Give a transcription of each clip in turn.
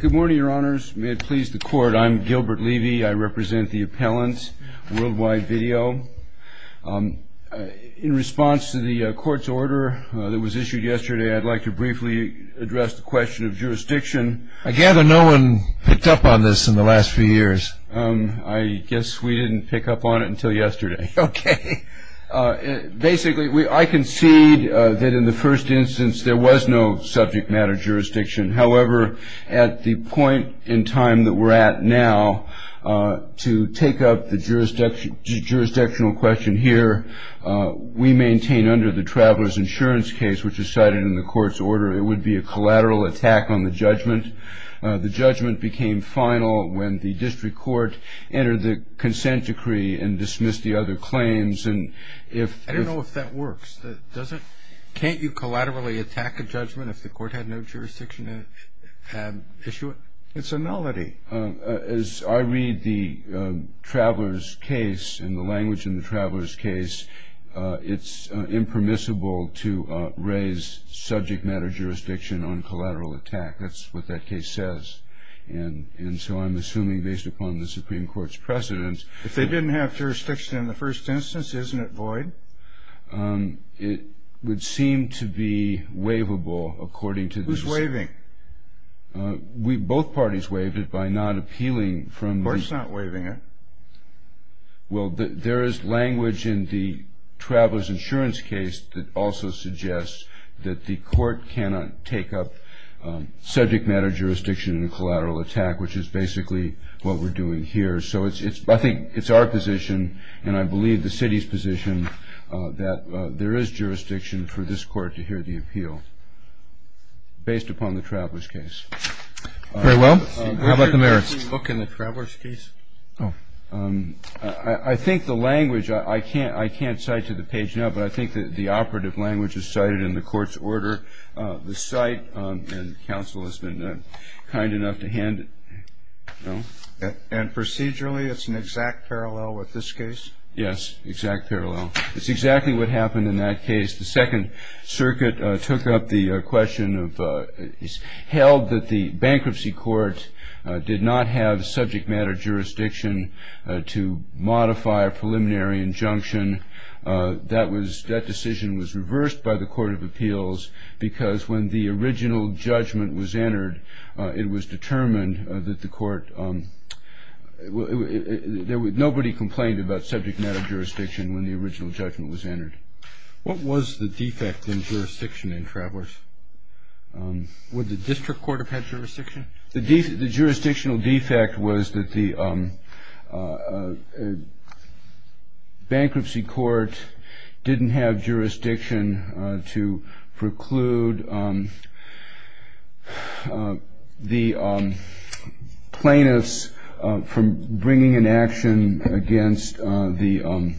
Good morning, your honors. May it please the court, I'm Gilbert Levy. I represent the appellant World Wide Video. In response to the court's order that was issued yesterday, I'd like to briefly address the question of jurisdiction. I gather no one picked up on this in the last few years. I guess we didn't pick up on it until yesterday. Okay. Basically, I concede that in the first instance there was no subject matter jurisdiction. However, at the point in time that we're at now, to take up the jurisdictional question here, we maintain under the traveler's insurance case, which is cited in the court's order, it would be a collateral attack on the judgment. The judgment became final when the district court entered the consent decree and dismissed the other claims. I don't know if that works. Can't you collaterally attack a judgment if the court had no jurisdiction to issue it? It's a nullity. As I read the traveler's case and the language in the traveler's case, it's impermissible to raise subject matter jurisdiction on collateral attack. That's what that case says. And so I'm assuming, based upon the Supreme Court's precedence... If they didn't have jurisdiction in the first instance, isn't it void? It would seem to be waivable according to this. Who's waiving? Both parties waived it by not appealing from the... The court's not waiving it. Well, there is language in the traveler's insurance case that also suggests that the court cannot take up subject matter jurisdiction in a collateral attack, which is basically what we're doing here. So I think it's our position, and I believe the city's position, that there is jurisdiction for this court to hear the appeal based upon the traveler's case. Very well. How about the mayor? Were you making a book in the traveler's case? Oh. I think the language... I can't cite to the page now, but I think the operative language is cited in the court's order. The site and counsel has been kind enough to hand it... No? And procedurally, it's an exact parallel with this case? Yes, exact parallel. It's exactly what happened in that case. The Second Circuit took up the question of... held that the bankruptcy court did not have subject matter jurisdiction to modify a preliminary injunction. That decision was reversed by the Court of Appeals because when the original judgment was entered, it was determined that the court... Nobody complained about subject matter jurisdiction when the original judgment was entered. What was the defect in jurisdiction in Travelers? The jurisdictional defect was that the bankruptcy court didn't have jurisdiction to preclude the plaintiffs from bringing an action against the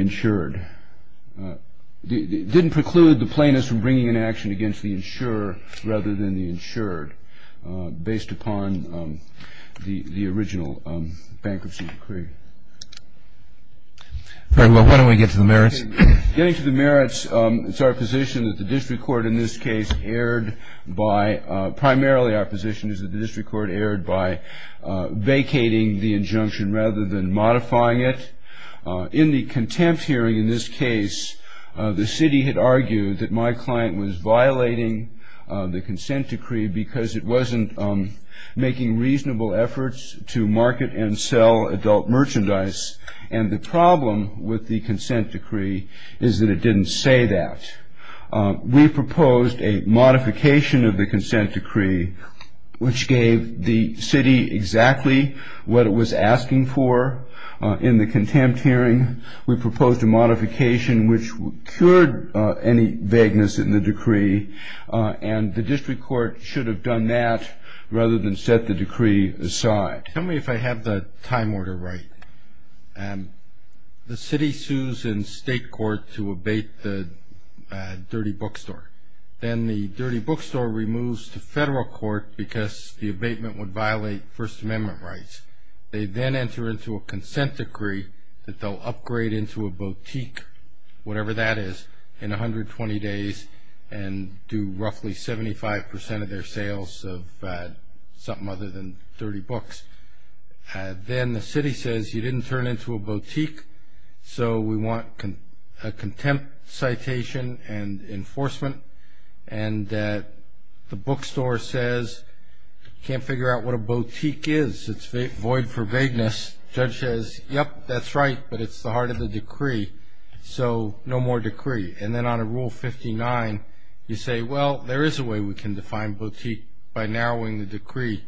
insured. Based upon the original bankruptcy decree. Very well. Why don't we get to the merits? Getting to the merits, it's our position that the district court in this case erred by... Primarily our position is that the district court erred by vacating the injunction rather than modifying it. In the contempt hearing in this case, the city had argued that my client was violating the consent decree because it wasn't making reasonable efforts to market and sell adult merchandise. And the problem with the consent decree is that it didn't say that. We proposed a modification of the consent decree, which gave the city exactly what it was asking for in the contempt hearing. We proposed a modification which cured any vagueness in the decree. And the district court should have done that rather than set the decree aside. Tell me if I have the time order right. The city sues in state court to abate the dirty bookstore. Then the dirty bookstore removes to federal court because the abatement would violate First Amendment rights. They then enter into a consent decree that they'll upgrade into a boutique, whatever that is, in 120 days and do roughly 75% of their sales of something other than 30 books. Then the city says you didn't turn into a boutique, so we want a contempt citation and enforcement. And the bookstore says you can't figure out what a boutique is. It's void for vagueness. Judge says, yep, that's right, but it's the heart of the decree, so no more decree. And then on Rule 59, you say, well, there is a way we can define boutique by narrowing the decree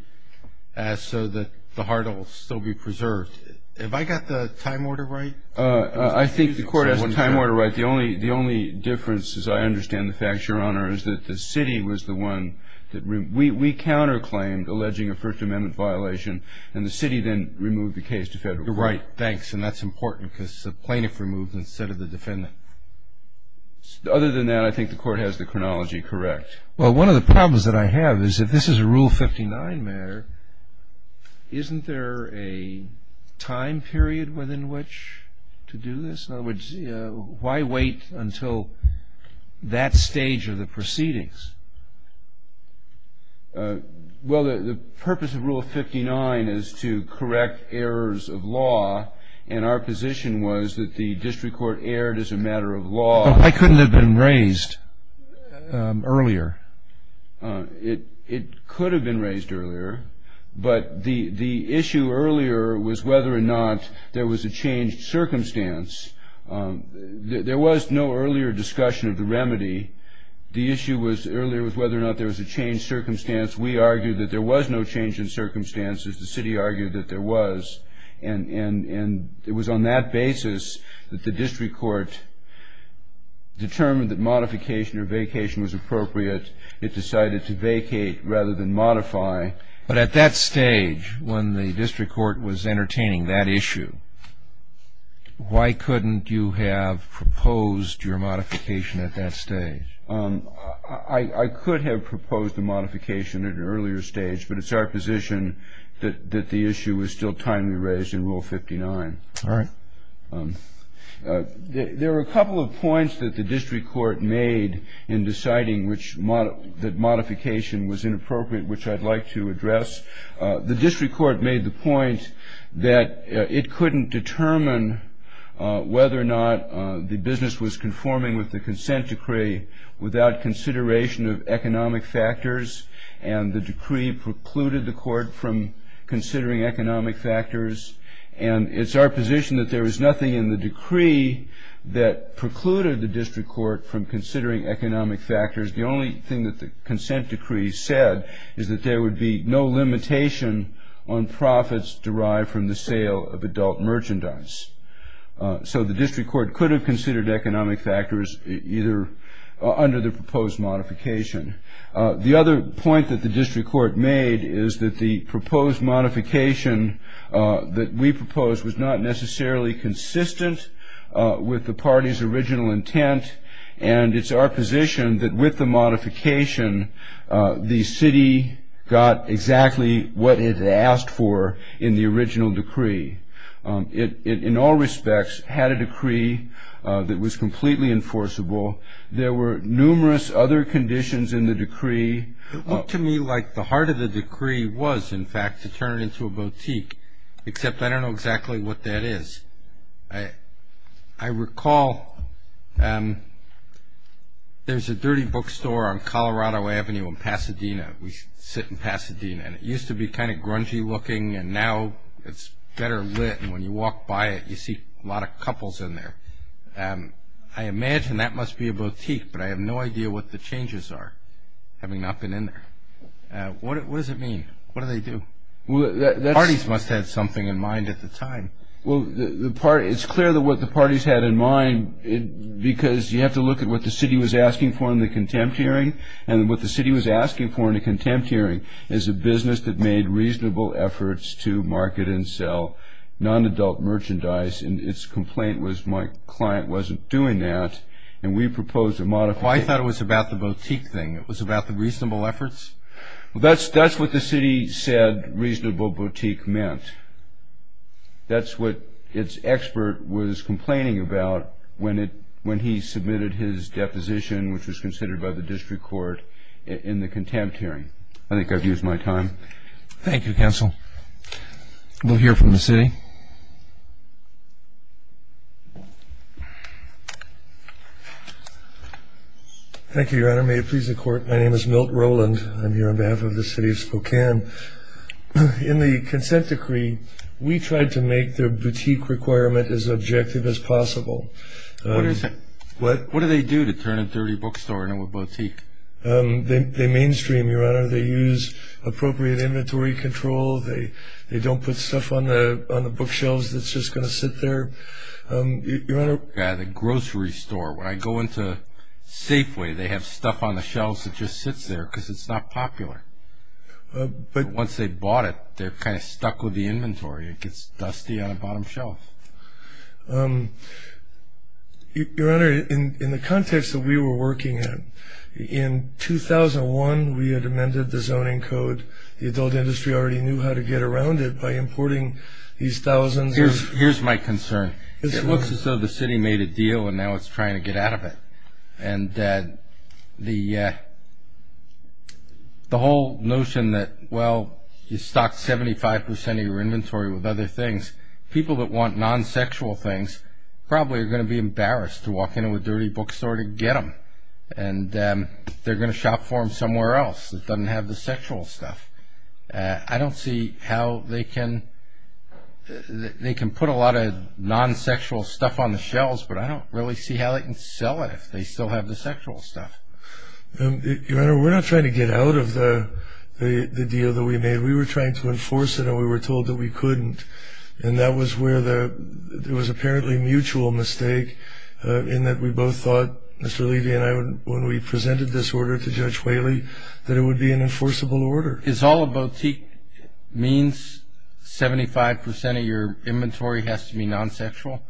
so that the heart will still be preserved. Have I got the time order right? I think the court has the time order right. But the only difference, as I understand the facts, Your Honor, is that the city was the one that removed. We counterclaimed alleging a First Amendment violation, and the city then removed the case to federal court. Right, thanks, and that's important because the plaintiff removed it instead of the defendant. Other than that, I think the court has the chronology correct. Well, one of the problems that I have is if this is a Rule 59 matter, isn't there a time period within which to do this? In other words, why wait until that stage of the proceedings? Well, the purpose of Rule 59 is to correct errors of law, and our position was that the district court erred as a matter of law. Why couldn't it have been raised earlier? It could have been raised earlier, but the issue earlier was whether or not there was a changed circumstance. There was no earlier discussion of the remedy. The issue earlier was whether or not there was a changed circumstance. We argued that there was no change in circumstances. The city argued that there was, and it was on that basis that the district court determined that modification or vacation was appropriate. It was on that basis that it decided to vacate rather than modify. But at that stage, when the district court was entertaining that issue, why couldn't you have proposed your modification at that stage? I could have proposed a modification at an earlier stage, but it's our position that the issue was still timely raised in Rule 59. All right. There were a couple of points that the district court made in deciding which modification was inappropriate, which I'd like to address. The district court made the point that it couldn't determine whether or not the business was conforming with the consent decree without consideration of economic factors, and the decree precluded the court from considering economic factors. And it's our position that there was nothing in the decree that precluded the district court from considering economic factors. The only thing that the consent decree said is that there would be no limitation on profits derived from the sale of adult merchandise. So the district court could have considered economic factors either under the proposed modification. The other point that the district court made is that the proposed modification that we proposed was not necessarily consistent with the party's original intent, and it's our position that with the modification, the city got exactly what it asked for in the original decree. It, in all respects, had a decree that was completely enforceable. There were numerous other conditions in the decree. It looked to me like the heart of the decree was, in fact, to turn it into a boutique, except I don't know exactly what that is. I recall there's a dirty bookstore on Colorado Avenue in Pasadena. We sit in Pasadena, and it used to be kind of grungy looking, and now it's better lit, and when you walk by it, you see a lot of couples in there. I imagine that must be a boutique, but I have no idea what the changes are, having not been in there. What does it mean? What do they do? Parties must have had something in mind at the time. Well, it's clear that what the parties had in mind, because you have to look at what the city was asking for in the contempt hearing, and what the city was asking for in the contempt hearing is a business that made reasonable efforts to market and sell non-adult merchandise, and its complaint was my client wasn't doing that, and we proposed a modification. Well, I thought it was about the boutique thing. It was about the reasonable efforts? Well, that's what the city said reasonable boutique meant. That's what its expert was complaining about when he submitted his deposition, which was considered by the district court, in the contempt hearing. I think I've used my time. Thank you, counsel. We'll hear from the city. Thank you, Your Honor. May it please the Court, my name is Milt Rowland. I'm here on behalf of the city of Spokane. In the consent decree, we tried to make their boutique requirement as objective as possible. What do they do to turn a dirty bookstore into a boutique? They mainstream, Your Honor. They use appropriate inventory control. They don't put stuff on the bookshelves that's just going to sit there. Your Honor. At a grocery store, when I go into Safeway, they have stuff on the shelves that just sits there because it's not popular. But once they bought it, they're kind of stuck with the inventory. It gets dusty on the bottom shelf. Your Honor, in the context that we were working in, in 2001, we had amended the zoning code. The adult industry already knew how to get around it by importing these thousands. Here's my concern. It looks as though the city made a deal and now it's trying to get out of it. And the whole notion that, well, you stock 75% of your inventory with other things, people that want non-sexual things probably are going to be embarrassed to walk into a dirty bookstore to get them. And they're going to shop for them somewhere else that doesn't have the sexual stuff. I don't see how they can put a lot of non-sexual stuff on the shelves, but I don't really see how they can sell it if they still have the sexual stuff. Your Honor, we're not trying to get out of the deal that we made. We were trying to enforce it, and we were told that we couldn't. And that was where there was apparently a mutual mistake in that we both thought, Mr. Levy and I, when we presented this order to Judge Whaley, that it would be an enforceable order. Is all a boutique means, 75% of your inventory has to be non-sexual?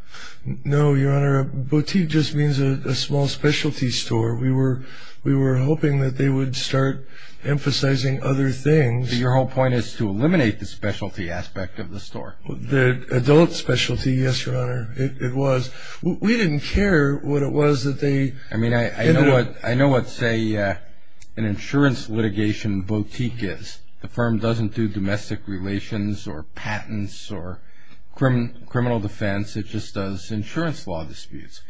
No, Your Honor. A boutique just means a small specialty store. We were hoping that they would start emphasizing other things. Your whole point is to eliminate the specialty aspect of the store. The adult specialty, yes, Your Honor, it was. We didn't care what it was that they did. I mean, I know what, say, an insurance litigation boutique is. The firm doesn't do domestic relations or patents or criminal defense. It just does insurance law disputes.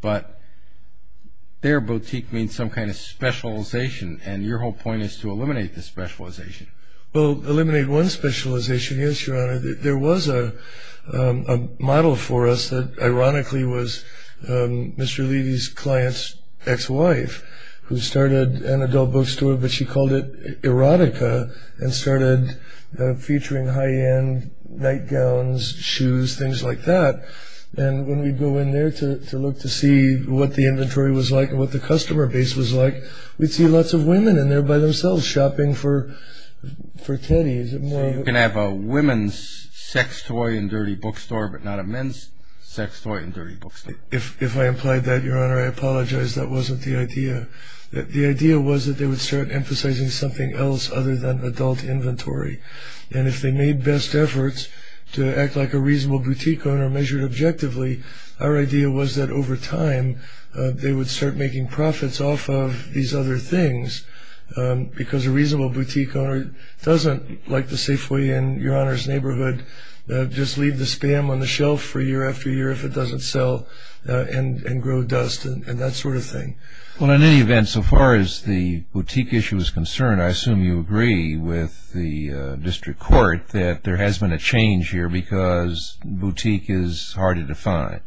But their boutique means some kind of specialization, and your whole point is to eliminate the specialization. Well, eliminate one specialization, yes, Your Honor. There was a model for us that ironically was Mr. Levy's client's ex-wife, who started an adult bookstore, but she called it Erotica, and started featuring high-end nightgowns, shoes, things like that. And when we'd go in there to look to see what the inventory was like and what the customer base was like, we'd see lots of women in there by themselves shopping for Teddy. You can have a women's sex toy and dirty bookstore, but not a men's sex toy and dirty bookstore. If I implied that, Your Honor, I apologize. That wasn't the idea. The idea was that they would start emphasizing something else other than adult inventory. And if they made best efforts to act like a reasonable boutique owner, measured objectively, our idea was that over time they would start making profits off of these other things because a reasonable boutique owner doesn't like to safely, in Your Honor's neighborhood, just leave the spam on the shelf for year after year if it doesn't sell and grow dust and that sort of thing. Well, in any event, so far as the boutique issue is concerned, I assume you agree with the district court that there has been a change here because boutique is harder to find.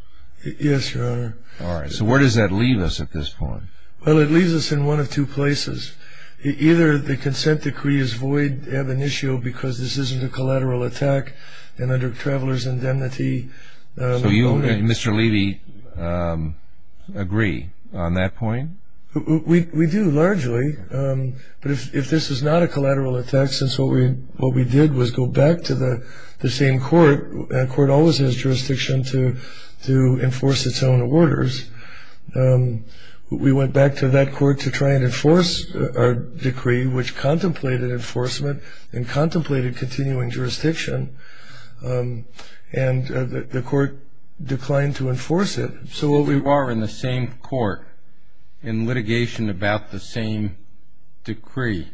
Yes, Your Honor. All right. So where does that leave us at this point? Well, it leaves us in one of two places. Either the consent decree is void, they have an issue because this isn't a collateral attack and under traveler's indemnity. So you and Mr. Levy agree on that point? We do, largely. But if this is not a collateral attack, what we did was go back to the same court. A court always has jurisdiction to enforce its own orders. We went back to that court to try and enforce our decree, which contemplated enforcement and contemplated continuing jurisdiction, and the court declined to enforce it. So while we are in the same court in litigation about the same decree,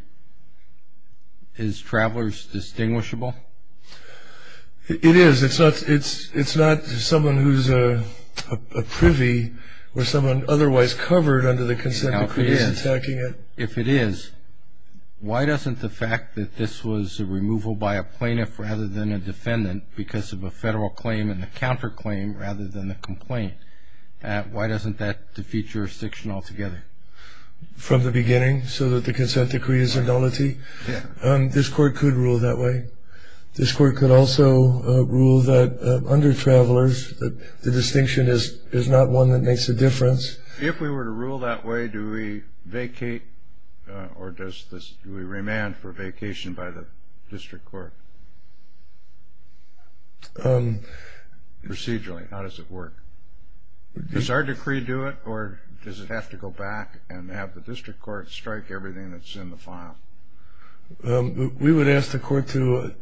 is traveler's distinguishable? It is. It's not someone who's a privy or someone otherwise covered under the consent decree is attacking it. If it is, why doesn't the fact that this was a removal by a plaintiff rather than a defendant because of a federal claim and the counterclaim rather than the complaint, why doesn't that defeat jurisdiction altogether? From the beginning, so that the consent decree is a nullity? Yeah. This court could rule that way. This court could also rule that under travelers, the distinction is not one that makes a difference. If we were to rule that way, do we vacate or do we remand for vacation by the district court procedurally? How does it work? Does our decree do it or does it have to go back and have the district court strike everything that's in the file? We would ask the court to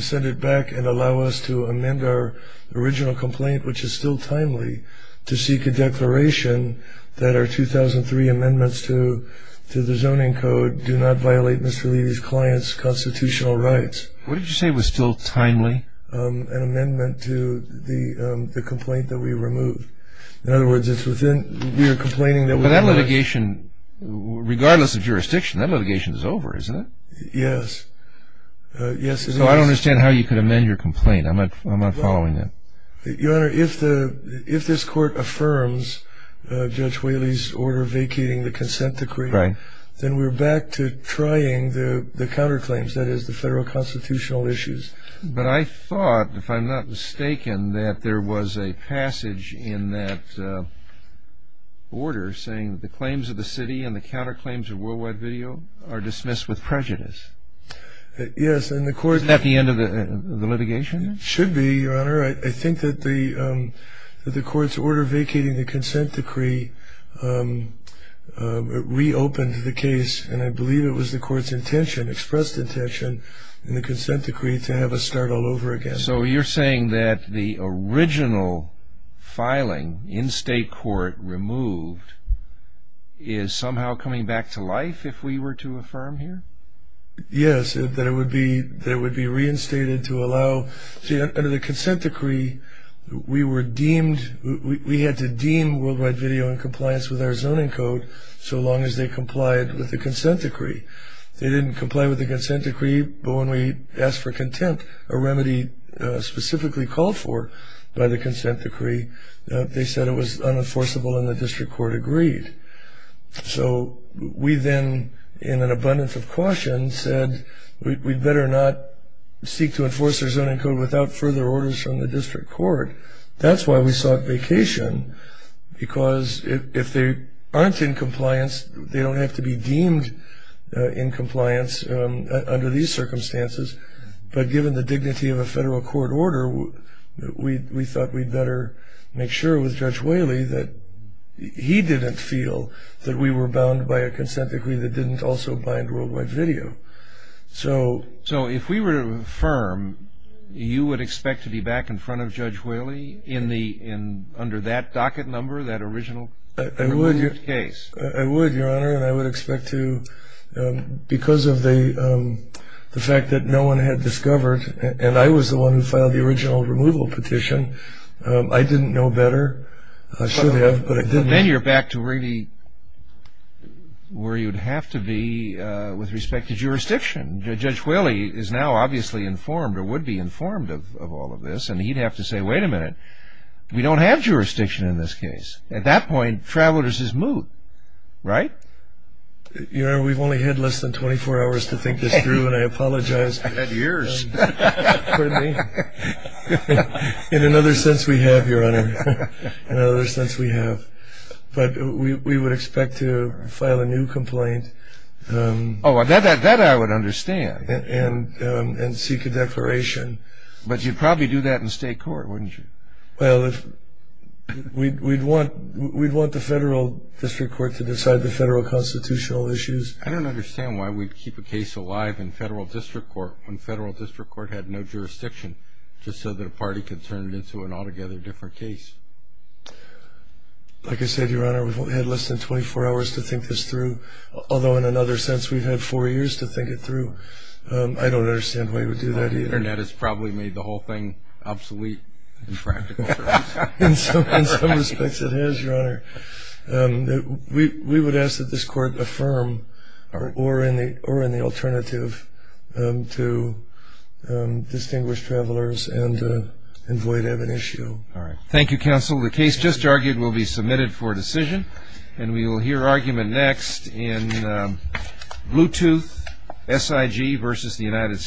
send it back and allow us to amend our original complaint, which is still timely, to seek a declaration that our 2003 amendments to the zoning code do not violate Mr. Levy's client's constitutional rights. What did you say was still timely? An amendment to the complaint that we removed. In other words, we are complaining that we removed it. But that litigation, regardless of jurisdiction, that litigation is over, isn't it? Yes. So I don't understand how you could amend your complaint. I'm not following that. Your Honor, if this court affirms Judge Whaley's order vacating the consent decree, then we're back to trying the counterclaims, that is, the federal constitutional issues. But I thought, if I'm not mistaken, that there was a passage in that order saying that the claims of the city and the counterclaims of worldwide video are dismissed with prejudice. Yes. Isn't that the end of the litigation? It should be, Your Honor. I think that the court's order vacating the consent decree reopened the case, and I believe it was the court's intention, expressed intention, in the consent decree to have us start all over again. So you're saying that the original filing in state court removed is somehow coming back to life if we were to affirm here? Yes, that it would be reinstated to allow. Under the consent decree, we were deemed, we had to deem worldwide video in compliance with our zoning code so long as they complied with the consent decree. They didn't comply with the consent decree, but when we asked for contempt, a remedy specifically called for by the consent decree, they said it was unenforceable and the district court agreed. So we then, in an abundance of caution, said we'd better not seek to enforce our zoning code without further orders from the district court. That's why we sought vacation, because if they aren't in compliance, they don't have to be deemed in compliance under these circumstances. But given the dignity of a federal court order, we thought we'd better make sure with Judge Whaley that he didn't feel that we were bound by a consent decree that didn't also bind worldwide video. So if we were to affirm, you would expect to be back in front of Judge Whaley under that docket number, that original case? I would, Your Honor, and I would expect to, because of the fact that no one had discovered, and I was the one who filed the original removal petition. I didn't know better. I should have, but I didn't. Then you're back to really where you'd have to be with respect to jurisdiction. Judge Whaley is now obviously informed or would be informed of all of this, and he'd have to say, wait a minute, we don't have jurisdiction in this case. At that point, travelers is moot, right? Your Honor, we've only had less than 24 hours to think this through, and I apologize. We've had years. In another sense we have, Your Honor. In another sense we have. But we would expect to file a new complaint. Oh, that I would understand. And seek a declaration. But you'd probably do that in state court, wouldn't you? Well, we'd want the federal district court to decide the federal constitutional issues. I don't understand why we'd keep a case alive in federal district court when federal district court had no jurisdiction, just so that a party could turn it into an altogether different case. Like I said, Your Honor, we've only had less than 24 hours to think this through, although in another sense we've had four years to think it through. I don't understand why you would do that either. The Internet has probably made the whole thing obsolete in practical terms. In some respects it has, Your Honor. We would ask that this court affirm or in the alternative to distinguished travelers and void of an issue. All right. Thank you, counsel. The case just argued will be submitted for decision, and we will hear argument next in Bluetooth, SIG versus the United States.